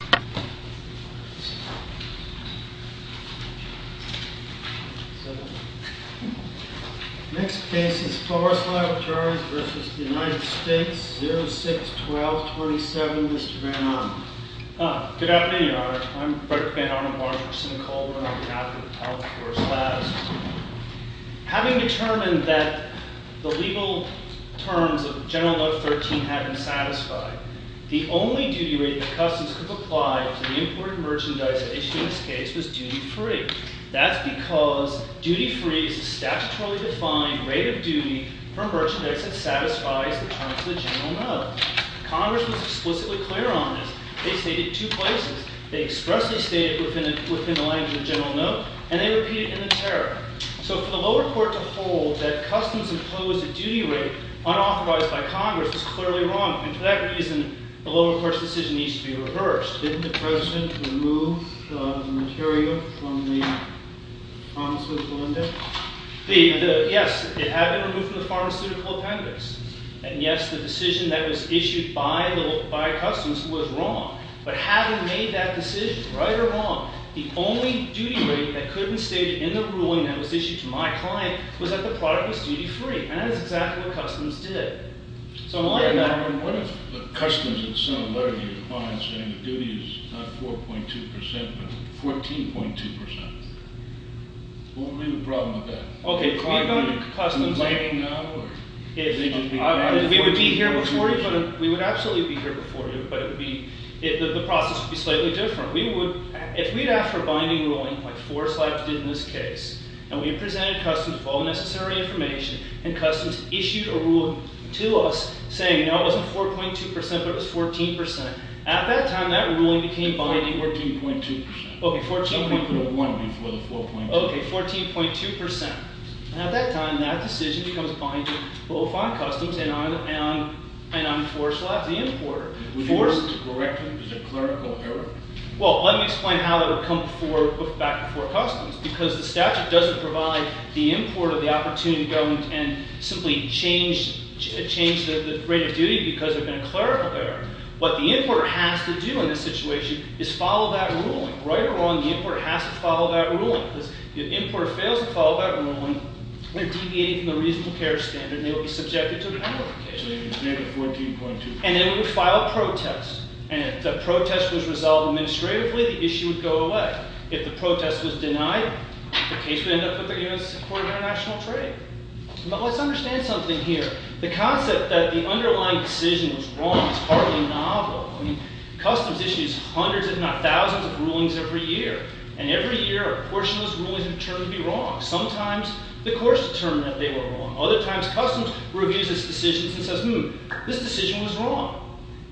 06-12-27, Mr. Van Arnam. Good afternoon, Your Honor. I'm Frederick Van Arnam, Law Enforcement in Calderon, on behalf of the Appellate Courts Labs. Having determined that the legal terms of General Note 13 have been satisfied, the only duty rate that Customs could apply to the imported merchandise issued in this case was duty-free. That's because duty-free is a statutorily defined rate of duty for merchandise that satisfies the terms of the General Note. Congress was explicitly clear on this. They stated two places. They expressly stated it within the language of the General Note, and they repeated it in the Tariff. So for the clearly wrong. And for that reason, the lower court's decision needs to be reversed. Didn't the President remove the material from the pharmaceutical appendix? Yes, it had been removed from the pharmaceutical appendix. And yes, the decision that was issued by Customs was wrong. But having made that decision, right or wrong, the only duty rate that could have been stated in the ruling that was issued to my client was that the What if Customs had sent a letter to your client saying that duty is not 4.2%, but 14.2%? What would be the problem with that? Okay, we would be here before you, but the process would be slightly different. If we had, after binding ruling, like Forest Life did in this case, and we had presented Customs with all the necessary information, and Customs issued a rule to us saying, no, it wasn't 4.2%, but it was 14%. At that time, that ruling became binding. 14.2%. Okay, 14.2%. 14.1% before the 4.2%. Okay, 14.2%. And at that time, that decision becomes binding. But we'll find Customs, and I'm Forest Life, the importer. Would you be able to correct him? Is it clerical error? Well, let me explain how that would come back before Customs. Because the statute doesn't provide the import of the opportunity to go and simply change the rate of duty because of a clerical error. What the importer has to do in this situation is follow that ruling. Right or wrong, the importer has to follow that ruling. If the importer fails to follow that ruling, they're deviating from the reasonable care standard, and they will be subjected to a penalty case. Okay, so you can make it 14.2%. And they would file a protest. And if the protest was resolved administratively, the protest was denied, the case would end up with the U.S. Supreme Court of International Trade. But let's understand something here. The concept that the underlying decision was wrong is hardly novel. I mean, Customs issues hundreds, if not thousands, of rulings every year. And every year, a portion of those rulings are determined to be wrong. Sometimes the courts determine that they were wrong. Other times, Customs reviews its decisions and says, hmm, this decision was wrong.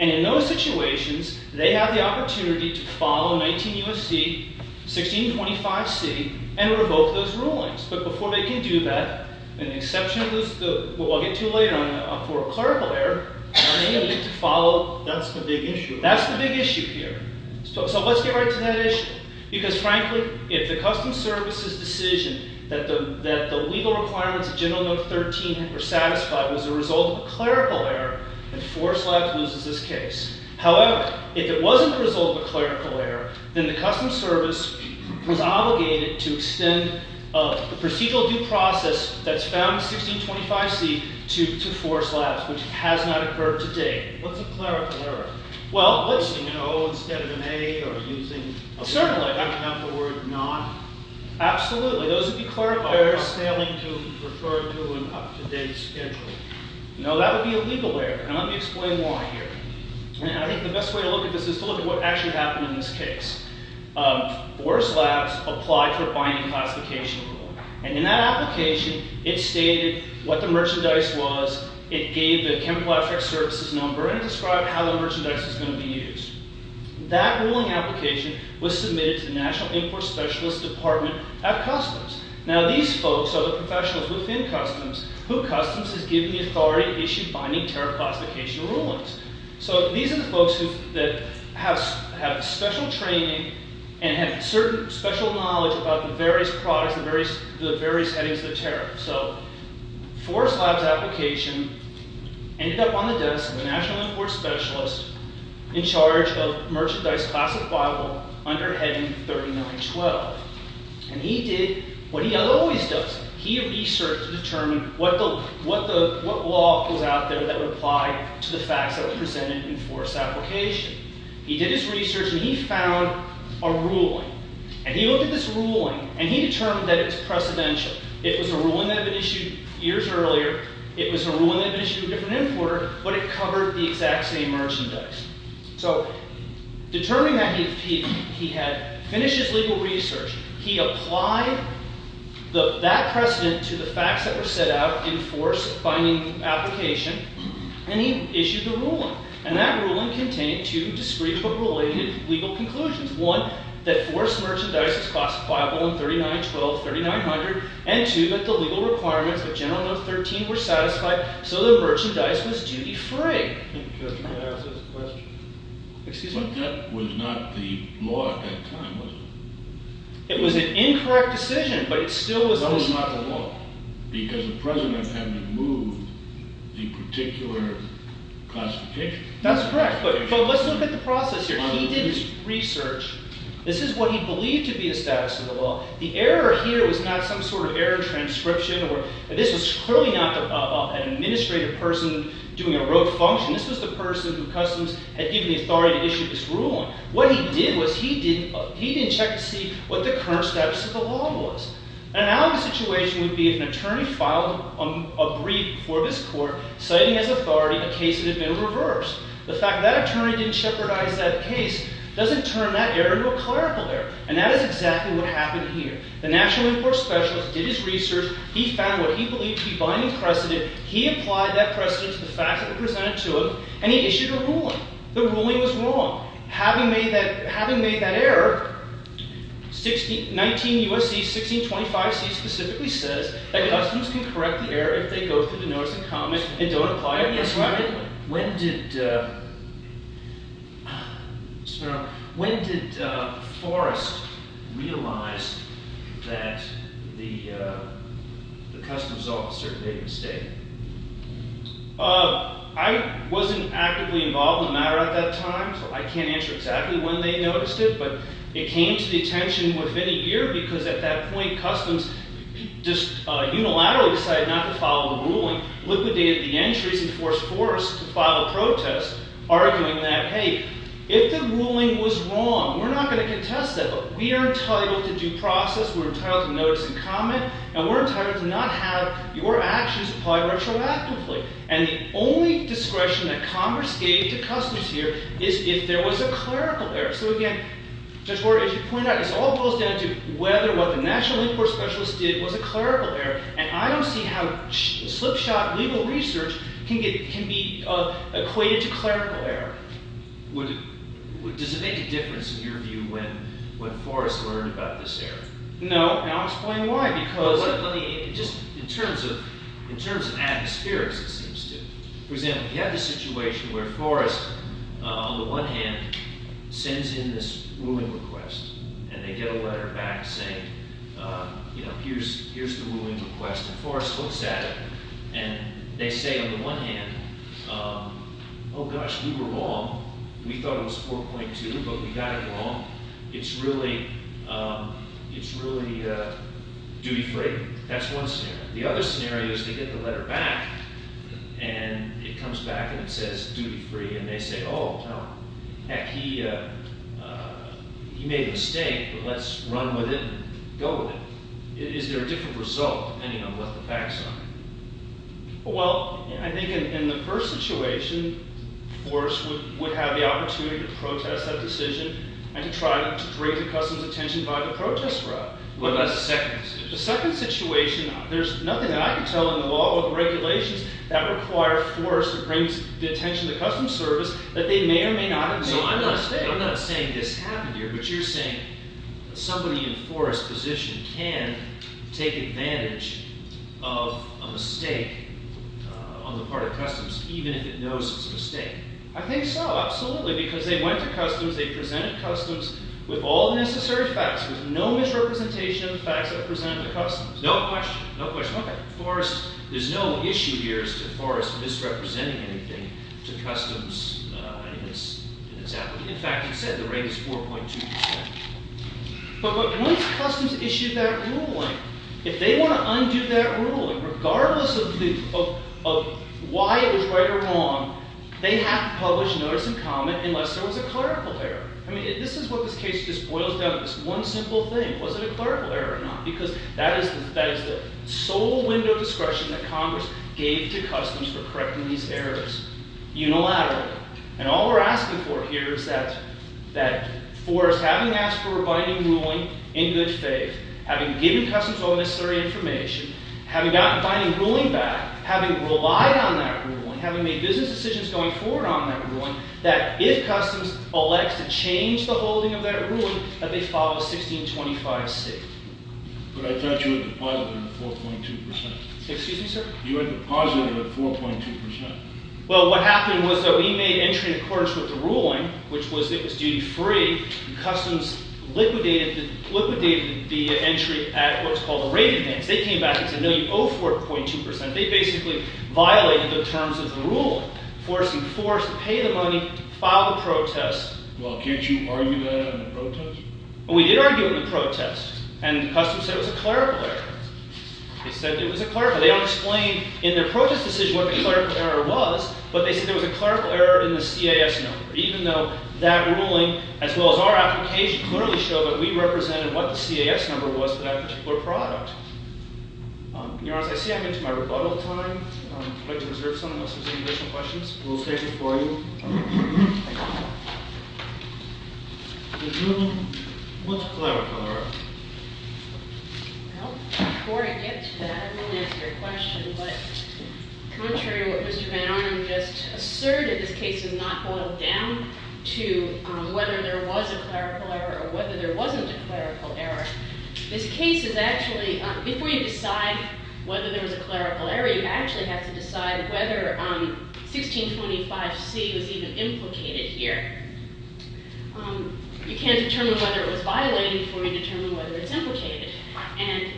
And in those situations, they have the opportunity to follow 19 U.S.C., 1625C, and revoke those rulings. But before they can do that, and the exception is what we'll get to later on, for a clerical error, they need to follow... That's the big issue. That's the big issue here. So let's get right to that issue. Because frankly, if the Customs Service's decision that the legal requirements of General Note 13 were satisfied was a result of a clerical error, then Forest Labs loses this case. However, if it wasn't a result of a clerical error, then the Customs Service was obligated to extend the procedural due process that's found in 1625C to Forest Labs, which has not occurred to date. What's a clerical error? Well, let's say, you know, instead of an A or using... Certainly. I can have the word not. Absolutely. Those would be clerical errors. Failing to refer to an up-to-date schedule. No, that would be a legal error. And let me explain why here. And I think the best way to look at this is to look at what actually happened in this case. Forest Labs applied for a binding classification rule. And in that application, it stated what the merchandise was, it gave the chemical extract services number, and it described how the merchandise was going to be used. That ruling application was submitted to the National Import Specialist Department at Customs. Now, these folks are the professionals within Customs who Customs has given the authority to issue binding tariff classification rulings. So, these are the folks who have special training and have certain special knowledge about the various products and the various headings of the tariff. So, Forest Labs application ended up on the desk of the National Import Specialist in charge of merchandise classifiable under heading 3912. And he did what he always does. He researched to determine what law was out there that would apply to the facts that were presented in Forest's application. He did his research, and he found a ruling. And he looked at this ruling, and he determined that it's precedential. It was a ruling that had been issued years earlier. It was a ruling that had been issued to a different importer, but it covered the exact same merchandise. So, determining that he had finished his legal research, he applied that precedent to the facts that were set out in Forest's binding application, and he issued the ruling. And that ruling contained two discrete but related legal conclusions. One, that Forest's merchandise is classifiable in 3912, 3900. And two, that the legal requirements of General Note 13 were satisfied, so the merchandise was duty-free. Excuse me? But that was not the law at that time, was it? It was an incorrect decision, but it still was... That was not the law, because the precedent had removed the particular classification. That's correct, but let's look at the process here. He did his research. This is what he believed to be the status of the law. The error here was not some sort of error in transcription, or this was clearly not an administrative person doing a rote function. This was the person who Customs had given the authority to issue this ruling. What he did was he didn't check to see what the current status of the law was. An analogous situation would be if an attorney filed a brief before this court, citing as authority a case that had been reversed. The fact that that attorney didn't jeopardize that case doesn't turn that error into a clerical error, and that is exactly what happened here. The National Import Specialist did his research. He found what he believed to be binding precedent. He applied that precedent to the facts that were presented to him, and he issued a ruling. The ruling was wrong. Having made that error, 19 U.S.C., 1625 C. specifically says that Customs can correct the error if they go through the notice of comment and don't apply it. When did Forrest realize that the Customs officer made a mistake? I wasn't actively involved in the matter at that time, so I can't answer exactly when they noticed it, but it came to the attention within a year because at that point Customs unilaterally decided not to follow the ruling, liquidated the entries, and forced Forrest to file a protest, arguing that, hey, if the ruling was wrong, we're not going to contest that, but we are entitled to due process, we're entitled to notice and comment, and we're entitled to not have your actions applied retroactively. And the only discretion that Congress gave to Customs here is if there was a clerical error. So again, Judge Gore, as you pointed out, this all boils down to whether what the National Inquiry Specialist did was a clerical error, and I don't see how slipshod legal research can be equated to clerical error. Does it make a difference in your view when Forrest learned about this error? No, and I'll explain why. In terms of atmospheres, it seems to. For example, you have this situation where Forrest, on the one hand, sends in this ruling request, and they get a letter back saying, you know, here's the ruling request, and Forrest looks at it, and they say on the one hand, oh gosh, we were wrong. We thought it was 4.2, but we got it wrong. It's really duty free. That's one scenario. The other scenario is they get the letter back, and it comes back and it says, oh, heck, he made a mistake, but let's run with it and go with it. Is there a different result, depending on what the facts are? Well, I think in the first situation, Forrest would have the opportunity to protest that decision and to try to bring the Customs attention by the protest route. What about the second situation? The second situation, there's nothing that I can tell in the law or the regulations that would require Forrest to bring the attention of the Customs Service that they may or may not have made a mistake. I'm not saying this happened here, but you're saying that somebody in Forrest's position can take advantage of a mistake on the part of Customs, even if it knows it's a mistake. I think so, absolutely, because they went to Customs, they presented Customs with all the necessary facts, with no misrepresentation of the facts that are presented to Customs. No question. There's no issue here as to Forrest misrepresenting anything to Customs in his application. In fact, he said the rate is 4.2%. But once Customs issued that ruling, if they want to undo that ruling, regardless of why it was right or wrong, they have to publish notice and comment unless there was a clerical error. I mean, this is what this case just boils down to, this one simple thing, was it a clerical error or not? Because that is the sole window of discretion that Congress gave to Customs for correcting these errors, unilaterally. And all we're asking for here is that Forrest, having asked for a binding ruling in good faith, having given Customs all the necessary information, having gotten a binding ruling back, having relied on that ruling, having made business decisions going forward on that ruling, that if Customs elects to change the holding of that ruling, that they follow 1625c. But I thought you had deposited it at 4.2%. Excuse me, sir? You had deposited it at 4.2%. Well, what happened was that we made entry in accordance with the ruling, which was that it was duty-free, and Customs liquidated the entry at what's called a rate advance. They came back and said, no, you owe 4.2%. They basically violated the terms of the ruling, forcing Forrest to pay the money, file the protest. Well, can't you argue that in a protest? Well, we did argue it in a protest, and Customs said it was a clerical error. They said it was a clerical error. They don't explain in their protest decision what the clerical error was, but they said there was a clerical error in the CAS number, even though that ruling, as well as our application, clearly showed that we represented what the CAS number was for that particular product. Your Honor, as I see I'm into my rebuttal time, I'd like to reserve some unless there's any additional questions. We'll stand before you. Your Honor, what's a clerical error? Well, before I get to that, I want to ask you a question. But contrary to what Mr. Van Arnam just asserted, this case is not boiled down to whether there was a clerical error or whether there wasn't a clerical error. This case is actually, if we decide whether there was a clerical error, you actually have to decide whether 1625C was even implicated here. You can't determine whether it was violated before you determine whether it's implicated. And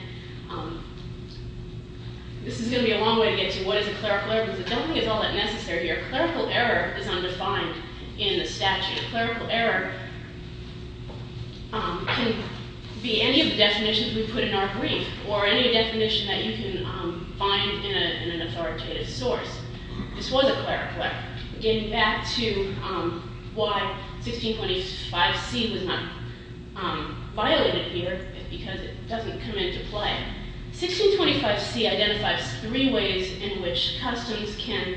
this is going to be a long way to get to what is a clerical error because I don't think it's all that necessary here. A clerical error is undefined in the statute. A clerical error can be any of the definitions we put in our brief or any definition that you can find in an authoritative source. This was a clerical error. Getting back to why 1625C was not violated here because it doesn't come into play, 1625C identifies three ways in which customs can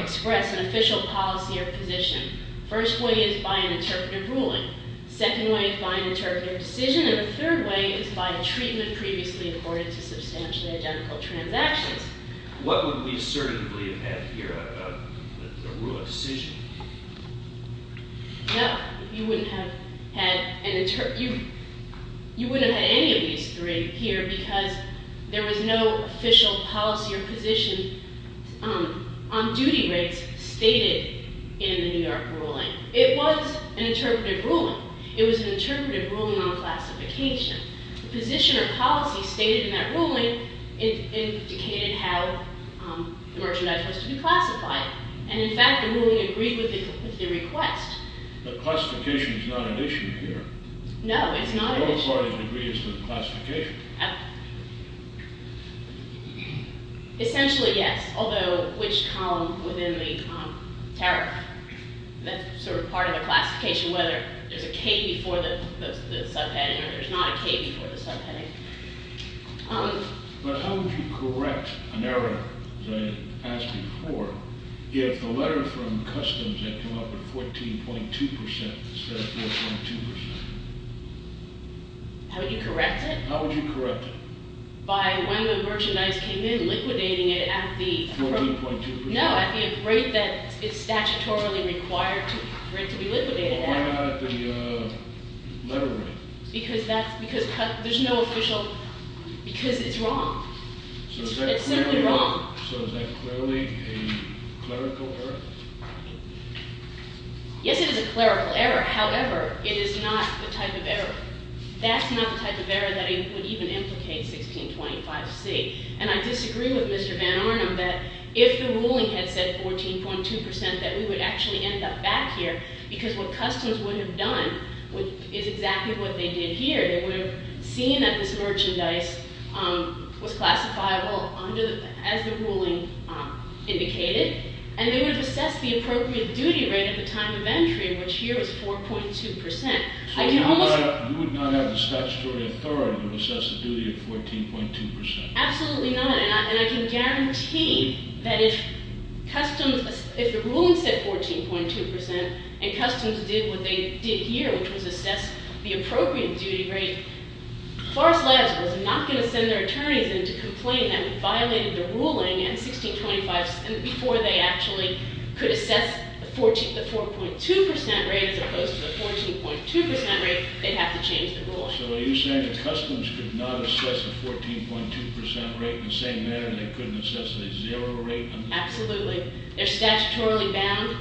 express an official policy or position. First way is by an interpretive ruling. Second way is by an interpretive decision. And the third way is by a treatment previously accorded to substantially identical transactions. What would we certainly have had here, a rule of decision? No, you wouldn't have had any of these three here because there was no official policy or position on duty rates stated in the New York ruling. It was an interpretive ruling. It was an interpretive ruling on classification. The position or policy stated in that ruling indicated how the merchandise was to be classified. And in fact, the ruling agreed with the request. But classification is not an issue here. No, it's not an issue. The only part of the degree is the classification. Essentially, yes, although which column within the tariff, that's sort of part of the classification whether there's a K before the subheading or there's not a K before the subheading. But how would you correct an error, as I asked before, if the letter from customs had come up at 14.2% instead of 14.2%? How would you correct it? How would you correct it? By when the merchandise came in, liquidating it at the- 14.2%? No, at the rate that it's statutorily required for it to be liquidated at. Well, why not at the letter rate? Because there's no official- because it's wrong. It's simply wrong. So is that clearly a clerical error? Yes, it is a clerical error. However, it is not the type of error. That's not the type of error that would even implicate 1625C. And I disagree with Mr. Van Arnam that if the ruling had said 14.2% that we would actually end up back here because what customs would have done is exactly what they did here. They would have seen that this merchandise was classifiable as the ruling indicated, and they would have assessed the appropriate duty rate at the time of entry, which here is 4.2%. So you would not have the statutory authority to assess the duty at 14.2%? Absolutely not. And I can guarantee that if customs- if the ruling said 14.2% and customs did what they did here, which was assess the appropriate duty rate, Forest Labs was not going to send their attorneys in to complain that we violated the ruling before they actually could assess the 4.2% rate as opposed to the 14.2% rate. They'd have to change the rule. So are you saying that customs could not assess the 14.2% rate in the same manner they couldn't assess the zero rate? Absolutely. They're statutorily bound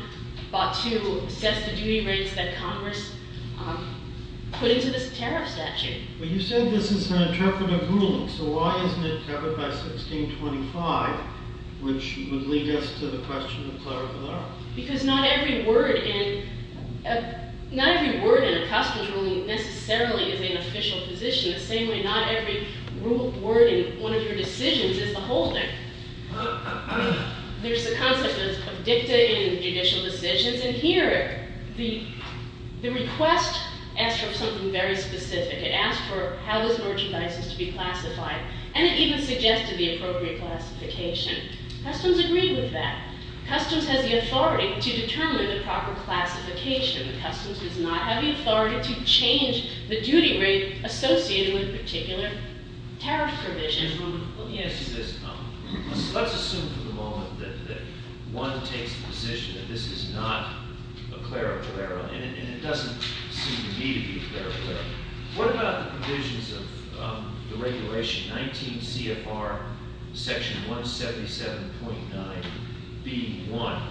to assess the duty rates that Congress put into this tariff statute. But you said this is an intrepid ruling, so why isn't it intrepid by 1625, which would lead us to the question of clerical error? Because not every word in a customs ruling necessarily is an official position. The same way not every word in one of your decisions is a holding. There's the concept of dicta in judicial decisions. And here the request asked for something very specific. It asked for how this merchandise is to be classified. And it even suggested the appropriate classification. Customs agreed with that. Customs has the authority to determine the proper classification. Customs does not have the authority to change the duty rate associated with a particular tariff provision. Let's assume for the moment that one takes the position that this is not a clerical error, and it doesn't seem to me to be clerical error. What about the provisions of the regulation, 19 CFR section 177.9B1,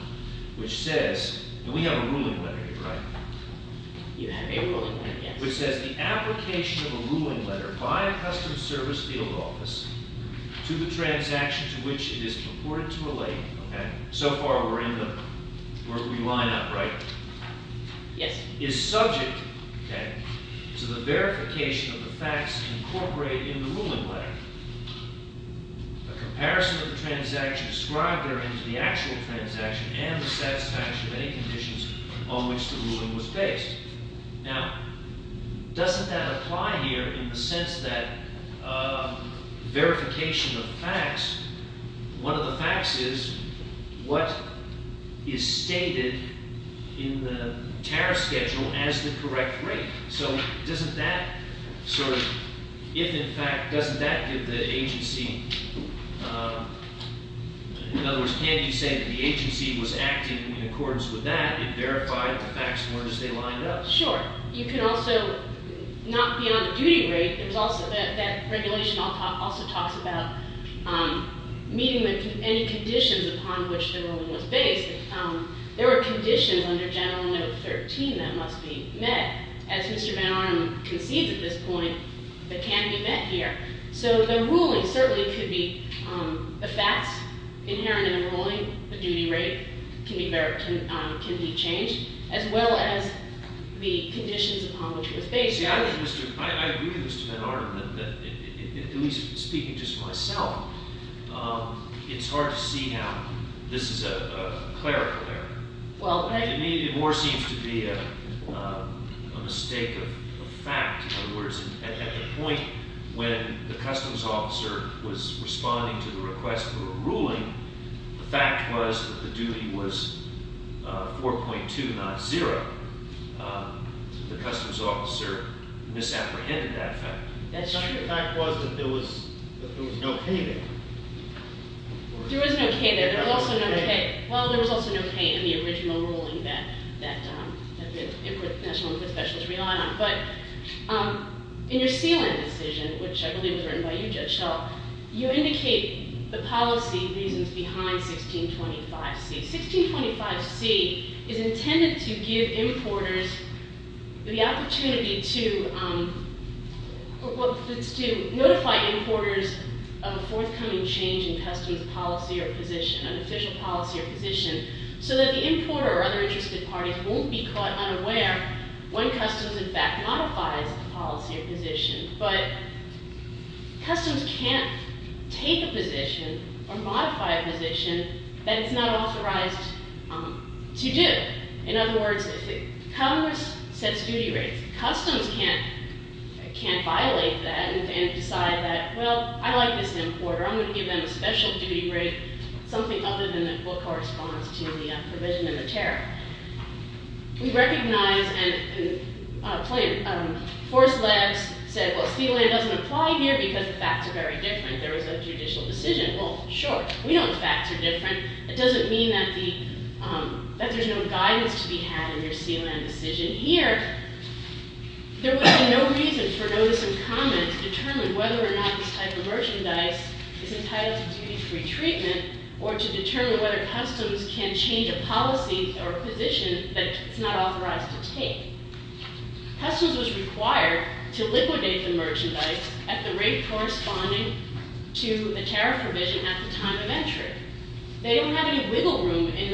which says, and we have a ruling letter here, right? You have a ruling letter, yes. Which says the application of a ruling letter by a Customs Service field office to the transaction to which it is reported to a lady, so far we're in the, we line up, right? Yes. Is subject to the verification of the facts incorporated in the ruling letter. The comparison of the transaction described therein to the actual transaction and the satisfaction of any conditions on which the ruling was based. Now, doesn't that apply here in the sense that verification of facts, one of the facts is what is stated in the tariff schedule as the correct rate. So doesn't that sort of, if in fact, doesn't that give the agency, in other words, can you say that the agency was acting in accordance with that and verified the facts were as they lined up? Sure. You can also, not beyond the duty rate, there's also that regulation also talks about meeting any conditions upon which the ruling was based. There were conditions under General No. 13 that must be met. As Mr. Van Arnam concedes at this point, they can't be met here. So the ruling certainly could be the facts inherent in the ruling, the duty rate can be changed, as well as the conditions upon which it was based. I agree with Mr. Van Arnam that, at least speaking just for myself, it's hard to see how this is a clerical error. It more seems to be a mistake of fact. In other words, at the point when the customs officer was responding to the request for a ruling, the fact was that the duty was 4.2, not 0. The customs officer misapprehended that fact. That's true. The fact was that there was no K there. There was no K there. There was also no K. Well, there was also no K in the original ruling that the National Inquiry Specialist relied on. But in your sealant decision, which I believe was written by you, Judge Schell, you indicate the policy reasons behind 1625C. 1625C is intended to give importers the opportunity to notify importers of a forthcoming change in customs policy or position, an official policy or position, so that the importer or other interested parties won't be caught unaware when customs in fact modifies the policy or position. But customs can't take a position or modify a position that it's not authorized to do. In other words, Congress sets duty rates. Customs can't violate that and decide that, well, I like this importer. I'm going to give them a special duty rate, something other than what corresponds to the provision in the tariff. We recognize and force labs say, well, sealant doesn't apply here because the facts are very different. There was a judicial decision. Well, sure. We know the facts are different. It doesn't mean that there's no guidance to be had in your sealant decision here. There would be no reason for notice and comment to determine whether or not this type of merchandise is entitled to duty-free treatment or to determine whether customs can change a policy or a position that it's not authorized to take. Customs was required to liquidate the merchandise at the rate corresponding to the tariff provision at the time of entry. They don't have any wiggle room in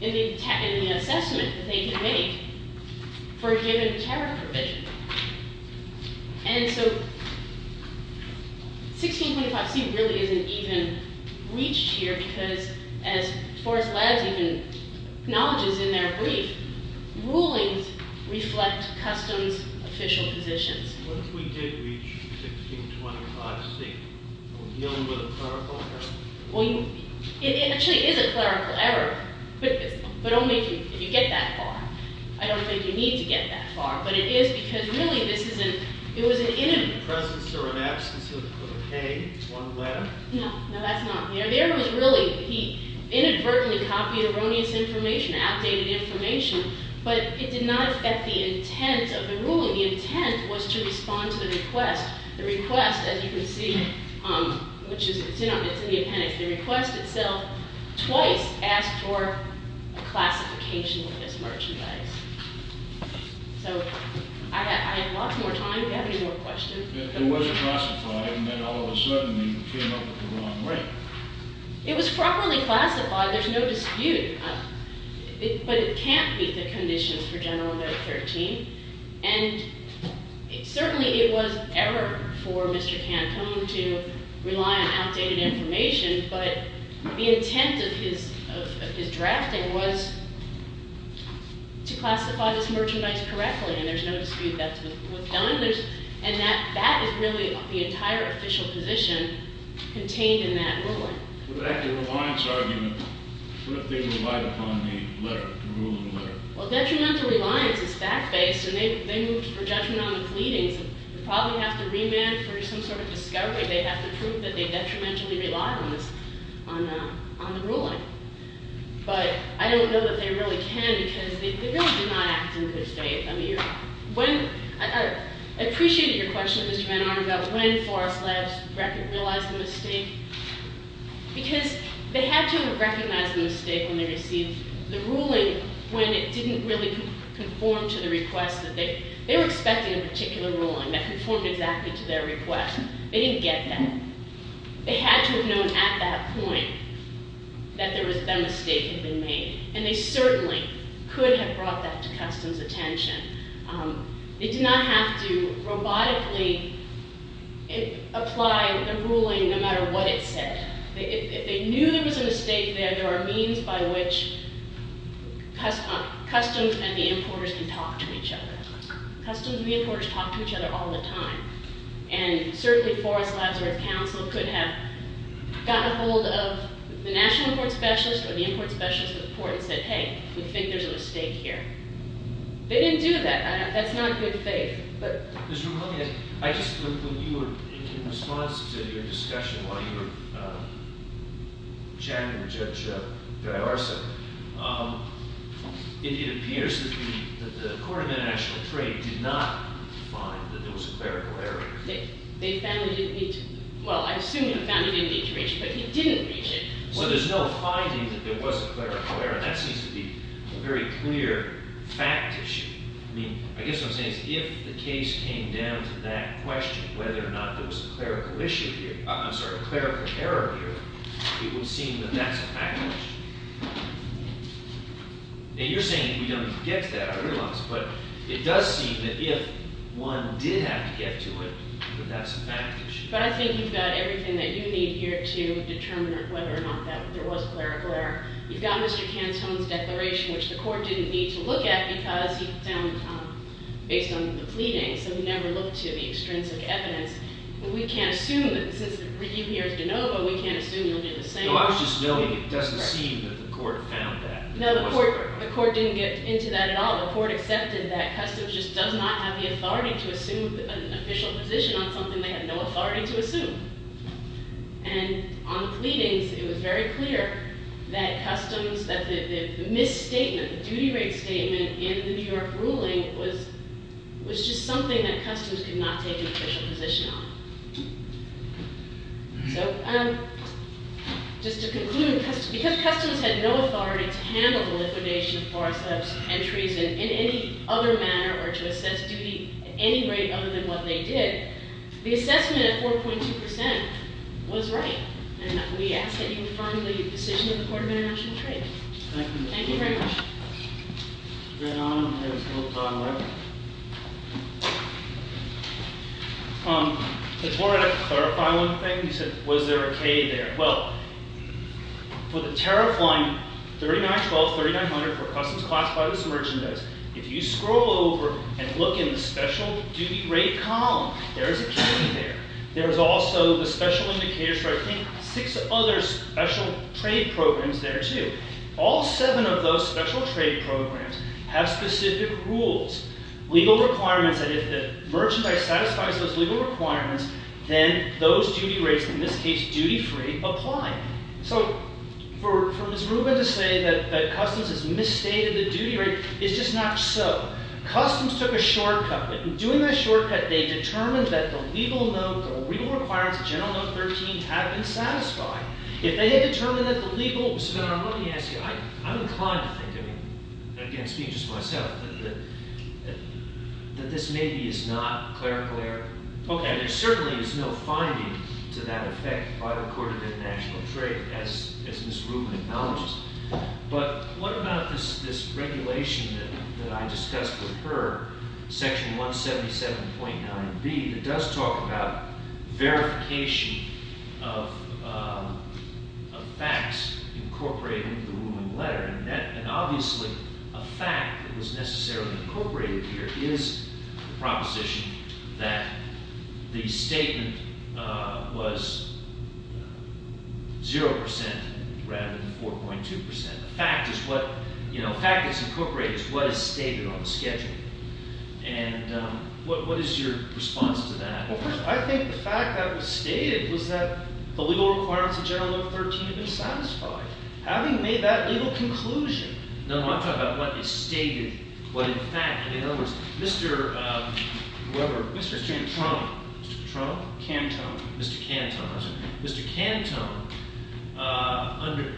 the assessment that they can make for a given tariff provision. And so 1625C really isn't even reached here because as force labs even acknowledges in their brief, rulings reflect customs official positions. What if we did reach 1625C? We're dealing with a clerical error. Well, it actually is a clerical error, but only if you get that far. I don't think you need to get that far, but it is because really this is an – it was an – In the presence or in absence of a claim, one letter? No. No, that's not here. There it was really. He inadvertently copied erroneous information, outdated information, but it did not affect the intent of the ruling. The intent was to respond to the request. The request, as you can see, which is – it's in the appendix. The request itself twice asked for a classification of this merchandise. So I have lots more time if you have any more questions. It was classified, and then all of a sudden they came up with the wrong rate. It was properly classified. There's no dispute. But it can't beat the conditions for General No. 13. And certainly it was error for Mr. Cantone to rely on outdated information, but the intent of his drafting was to classify this merchandise correctly, and there's no dispute that was done. And that is really the entire official position contained in that ruling. With that, the reliance argument, what if they relied upon the letter, the rule of the letter? Well, detrimental reliance is fact-based, and they moved for judgment on the pleadings. They'd probably have to remand for some sort of discovery. They'd have to prove that they detrimentally relied on the ruling. But I don't know that they really can because they really do not act in good faith. I appreciated your question, Mr. Van Arnam, about when Forest Labs realized the mistake because they had to have recognized the mistake when they received the ruling when it didn't really conform to the request. They were expecting a particular ruling that conformed exactly to their request. They didn't get that. They had to have known at that point that that mistake had been made, and they certainly could have brought that to Customs' attention. They did not have to robotically apply the ruling no matter what it said. If they knew there was a mistake there, there are means by which Customs and the importers can talk to each other. Customs and the importers talk to each other all the time. And certainly Forest Labs or its counsel could have gotten a hold of the national court specialist or the import specialist of the court and said, hey, we think there's a mistake here. They didn't do that. That's not good faith. Mr. Ramon, in response to your discussion while you were chatting with Judge D'Arsa, it appears that the Court of International Trade did not find that there was a clerical error. They found it in each—well, I assume they found it in each reach, but they didn't reach it. So there's no finding that there was a clerical error. That seems to be a very clear fact issue. I mean, I guess what I'm saying is if the case came down to that question, whether or not there was a clerical issue here— I'm sorry, a clerical error here, it would seem that that's a fact issue. And you're saying we don't get to that, I realize, but it does seem that if one did have to get to it, that that's a fact issue. But I think you've got everything that you need here to determine whether or not that there was a clerical error. You've got Mr. Cantone's declaration, which the court didn't need to look at because he found based on the pleadings, so he never looked to the extrinsic evidence. We can't assume that—since you're here as de novo, we can't assume you'll do the same. No, I was just noting it doesn't seem that the court found that. No, the court didn't get into that at all. The court accepted that customs just does not have the authority to assume an official position on something they have no authority to assume. And on the pleadings, it was very clear that customs—that the misstatement, the duty rate statement in the New York ruling was just something that customs could not take an official position on. So, just to conclude, because customs had no authority to handle the liquidation of force of entries in any other manner or to assess duty at any rate other than what they did, the assessment at 4.2 percent was right. And we ask that you affirm the decision of the Court of International Trade. Thank you. Thank you very much. Before I clarify one thing, you said, was there a K there? Well, for the tariff line 3912, 3900 for customs classified as merchandise, if you scroll over and look in the special duty rate column, there is a K there. There is also the special indicators for, I think, six other special trade programs there, too. All seven of those special trade programs have specific rules, legal requirements, and if the merchandise satisfies those legal requirements, then those duty rates, in this case duty-free, apply. So, for Ms. Rubin to say that customs has misstated the duty rate is just not so. Customs took a shortcut. In doing that shortcut, they determined that the legal requirements, General Note 13, have been satisfied. If they had determined that the legal... Ms. Rubin, let me ask you, I'm inclined to think, I mean, again, speaking just for myself, that this maybe is not clerical error. Okay, there certainly is no finding to that effect by the Court of International Trade, as Ms. Rubin acknowledges, but what about this regulation that I discussed with her, Section 177.9b, that does talk about verification of facts incorporated into the Rubin letter, and obviously a fact that was necessarily incorporated here is the proposition that the statement was 0% rather than 4.2%. A fact is what, you know, a fact that's incorporated is what is stated on the schedule. And what is your response to that? Well, first, I think the fact that it was stated was that the legal requirements of General Note 13 have been satisfied. Having made that legal conclusion... No, I'm talking about what is stated, what in fact... In other words, Mr. whoever... Mr. Cantone. Mr. Petronio? Cantone. Mr. Cantone. Mr. Cantone, under...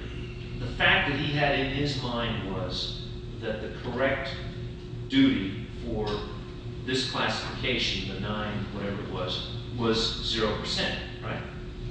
The fact that he had in his mind was that the correct duty for this classification, the 9, whatever it was, was 0%, right?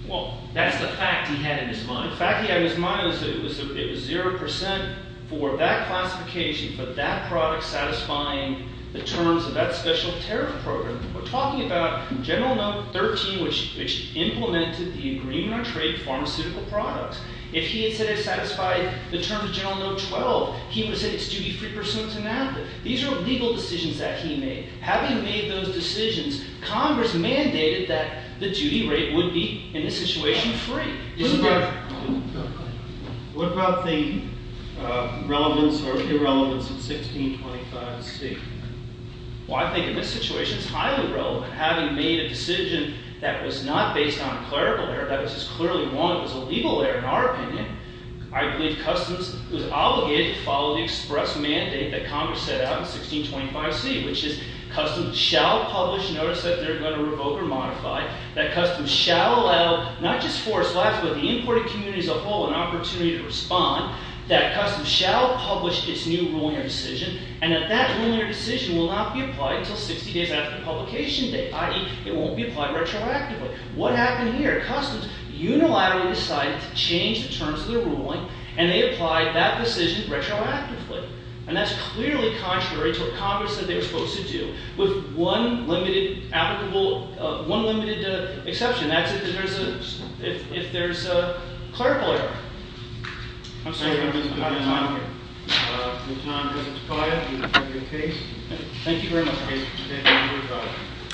Well, that's the fact he had in his mind. The fact he had in his mind was that it was 0% for that classification, for that product satisfying the terms of that special tariff program. We're talking about General Note 13, which implemented the agreement on trade pharmaceutical products. If he had said it satisfied the terms of General Note 12, he would have said it's duty free pursuant to NAFTA. These are legal decisions that he made. Having made those decisions, Congress mandated that the duty rate would be, in this situation, free. What about the relevance or irrelevance of 1625C? Well, I think in this situation it's highly relevant. Having made a decision that was not based on a clerical error, that was clearly one that was a legal error in our opinion, I believe Customs was obligated to follow the express mandate that Congress set out in 1625C, which is Customs shall publish notice that they're going to revoke or modify, that Customs shall allow not just Forest Lafayette but the importing community as a whole an opportunity to respond, that Customs shall publish its new ruling or decision, and that that ruling or decision will not be applied until 60 days after the publication date, i.e. it won't be applied retroactively. What happened here? Customs unilaterally decided to change the terms of their ruling, and they applied that decision retroactively. And that's clearly contrary to what Congress said they were supposed to do, with one limited exception. That's if there's a clerical error. I'm sorry, I don't have a lot of time here. There's not enough time, President Takaya, for your case. Thank you very much.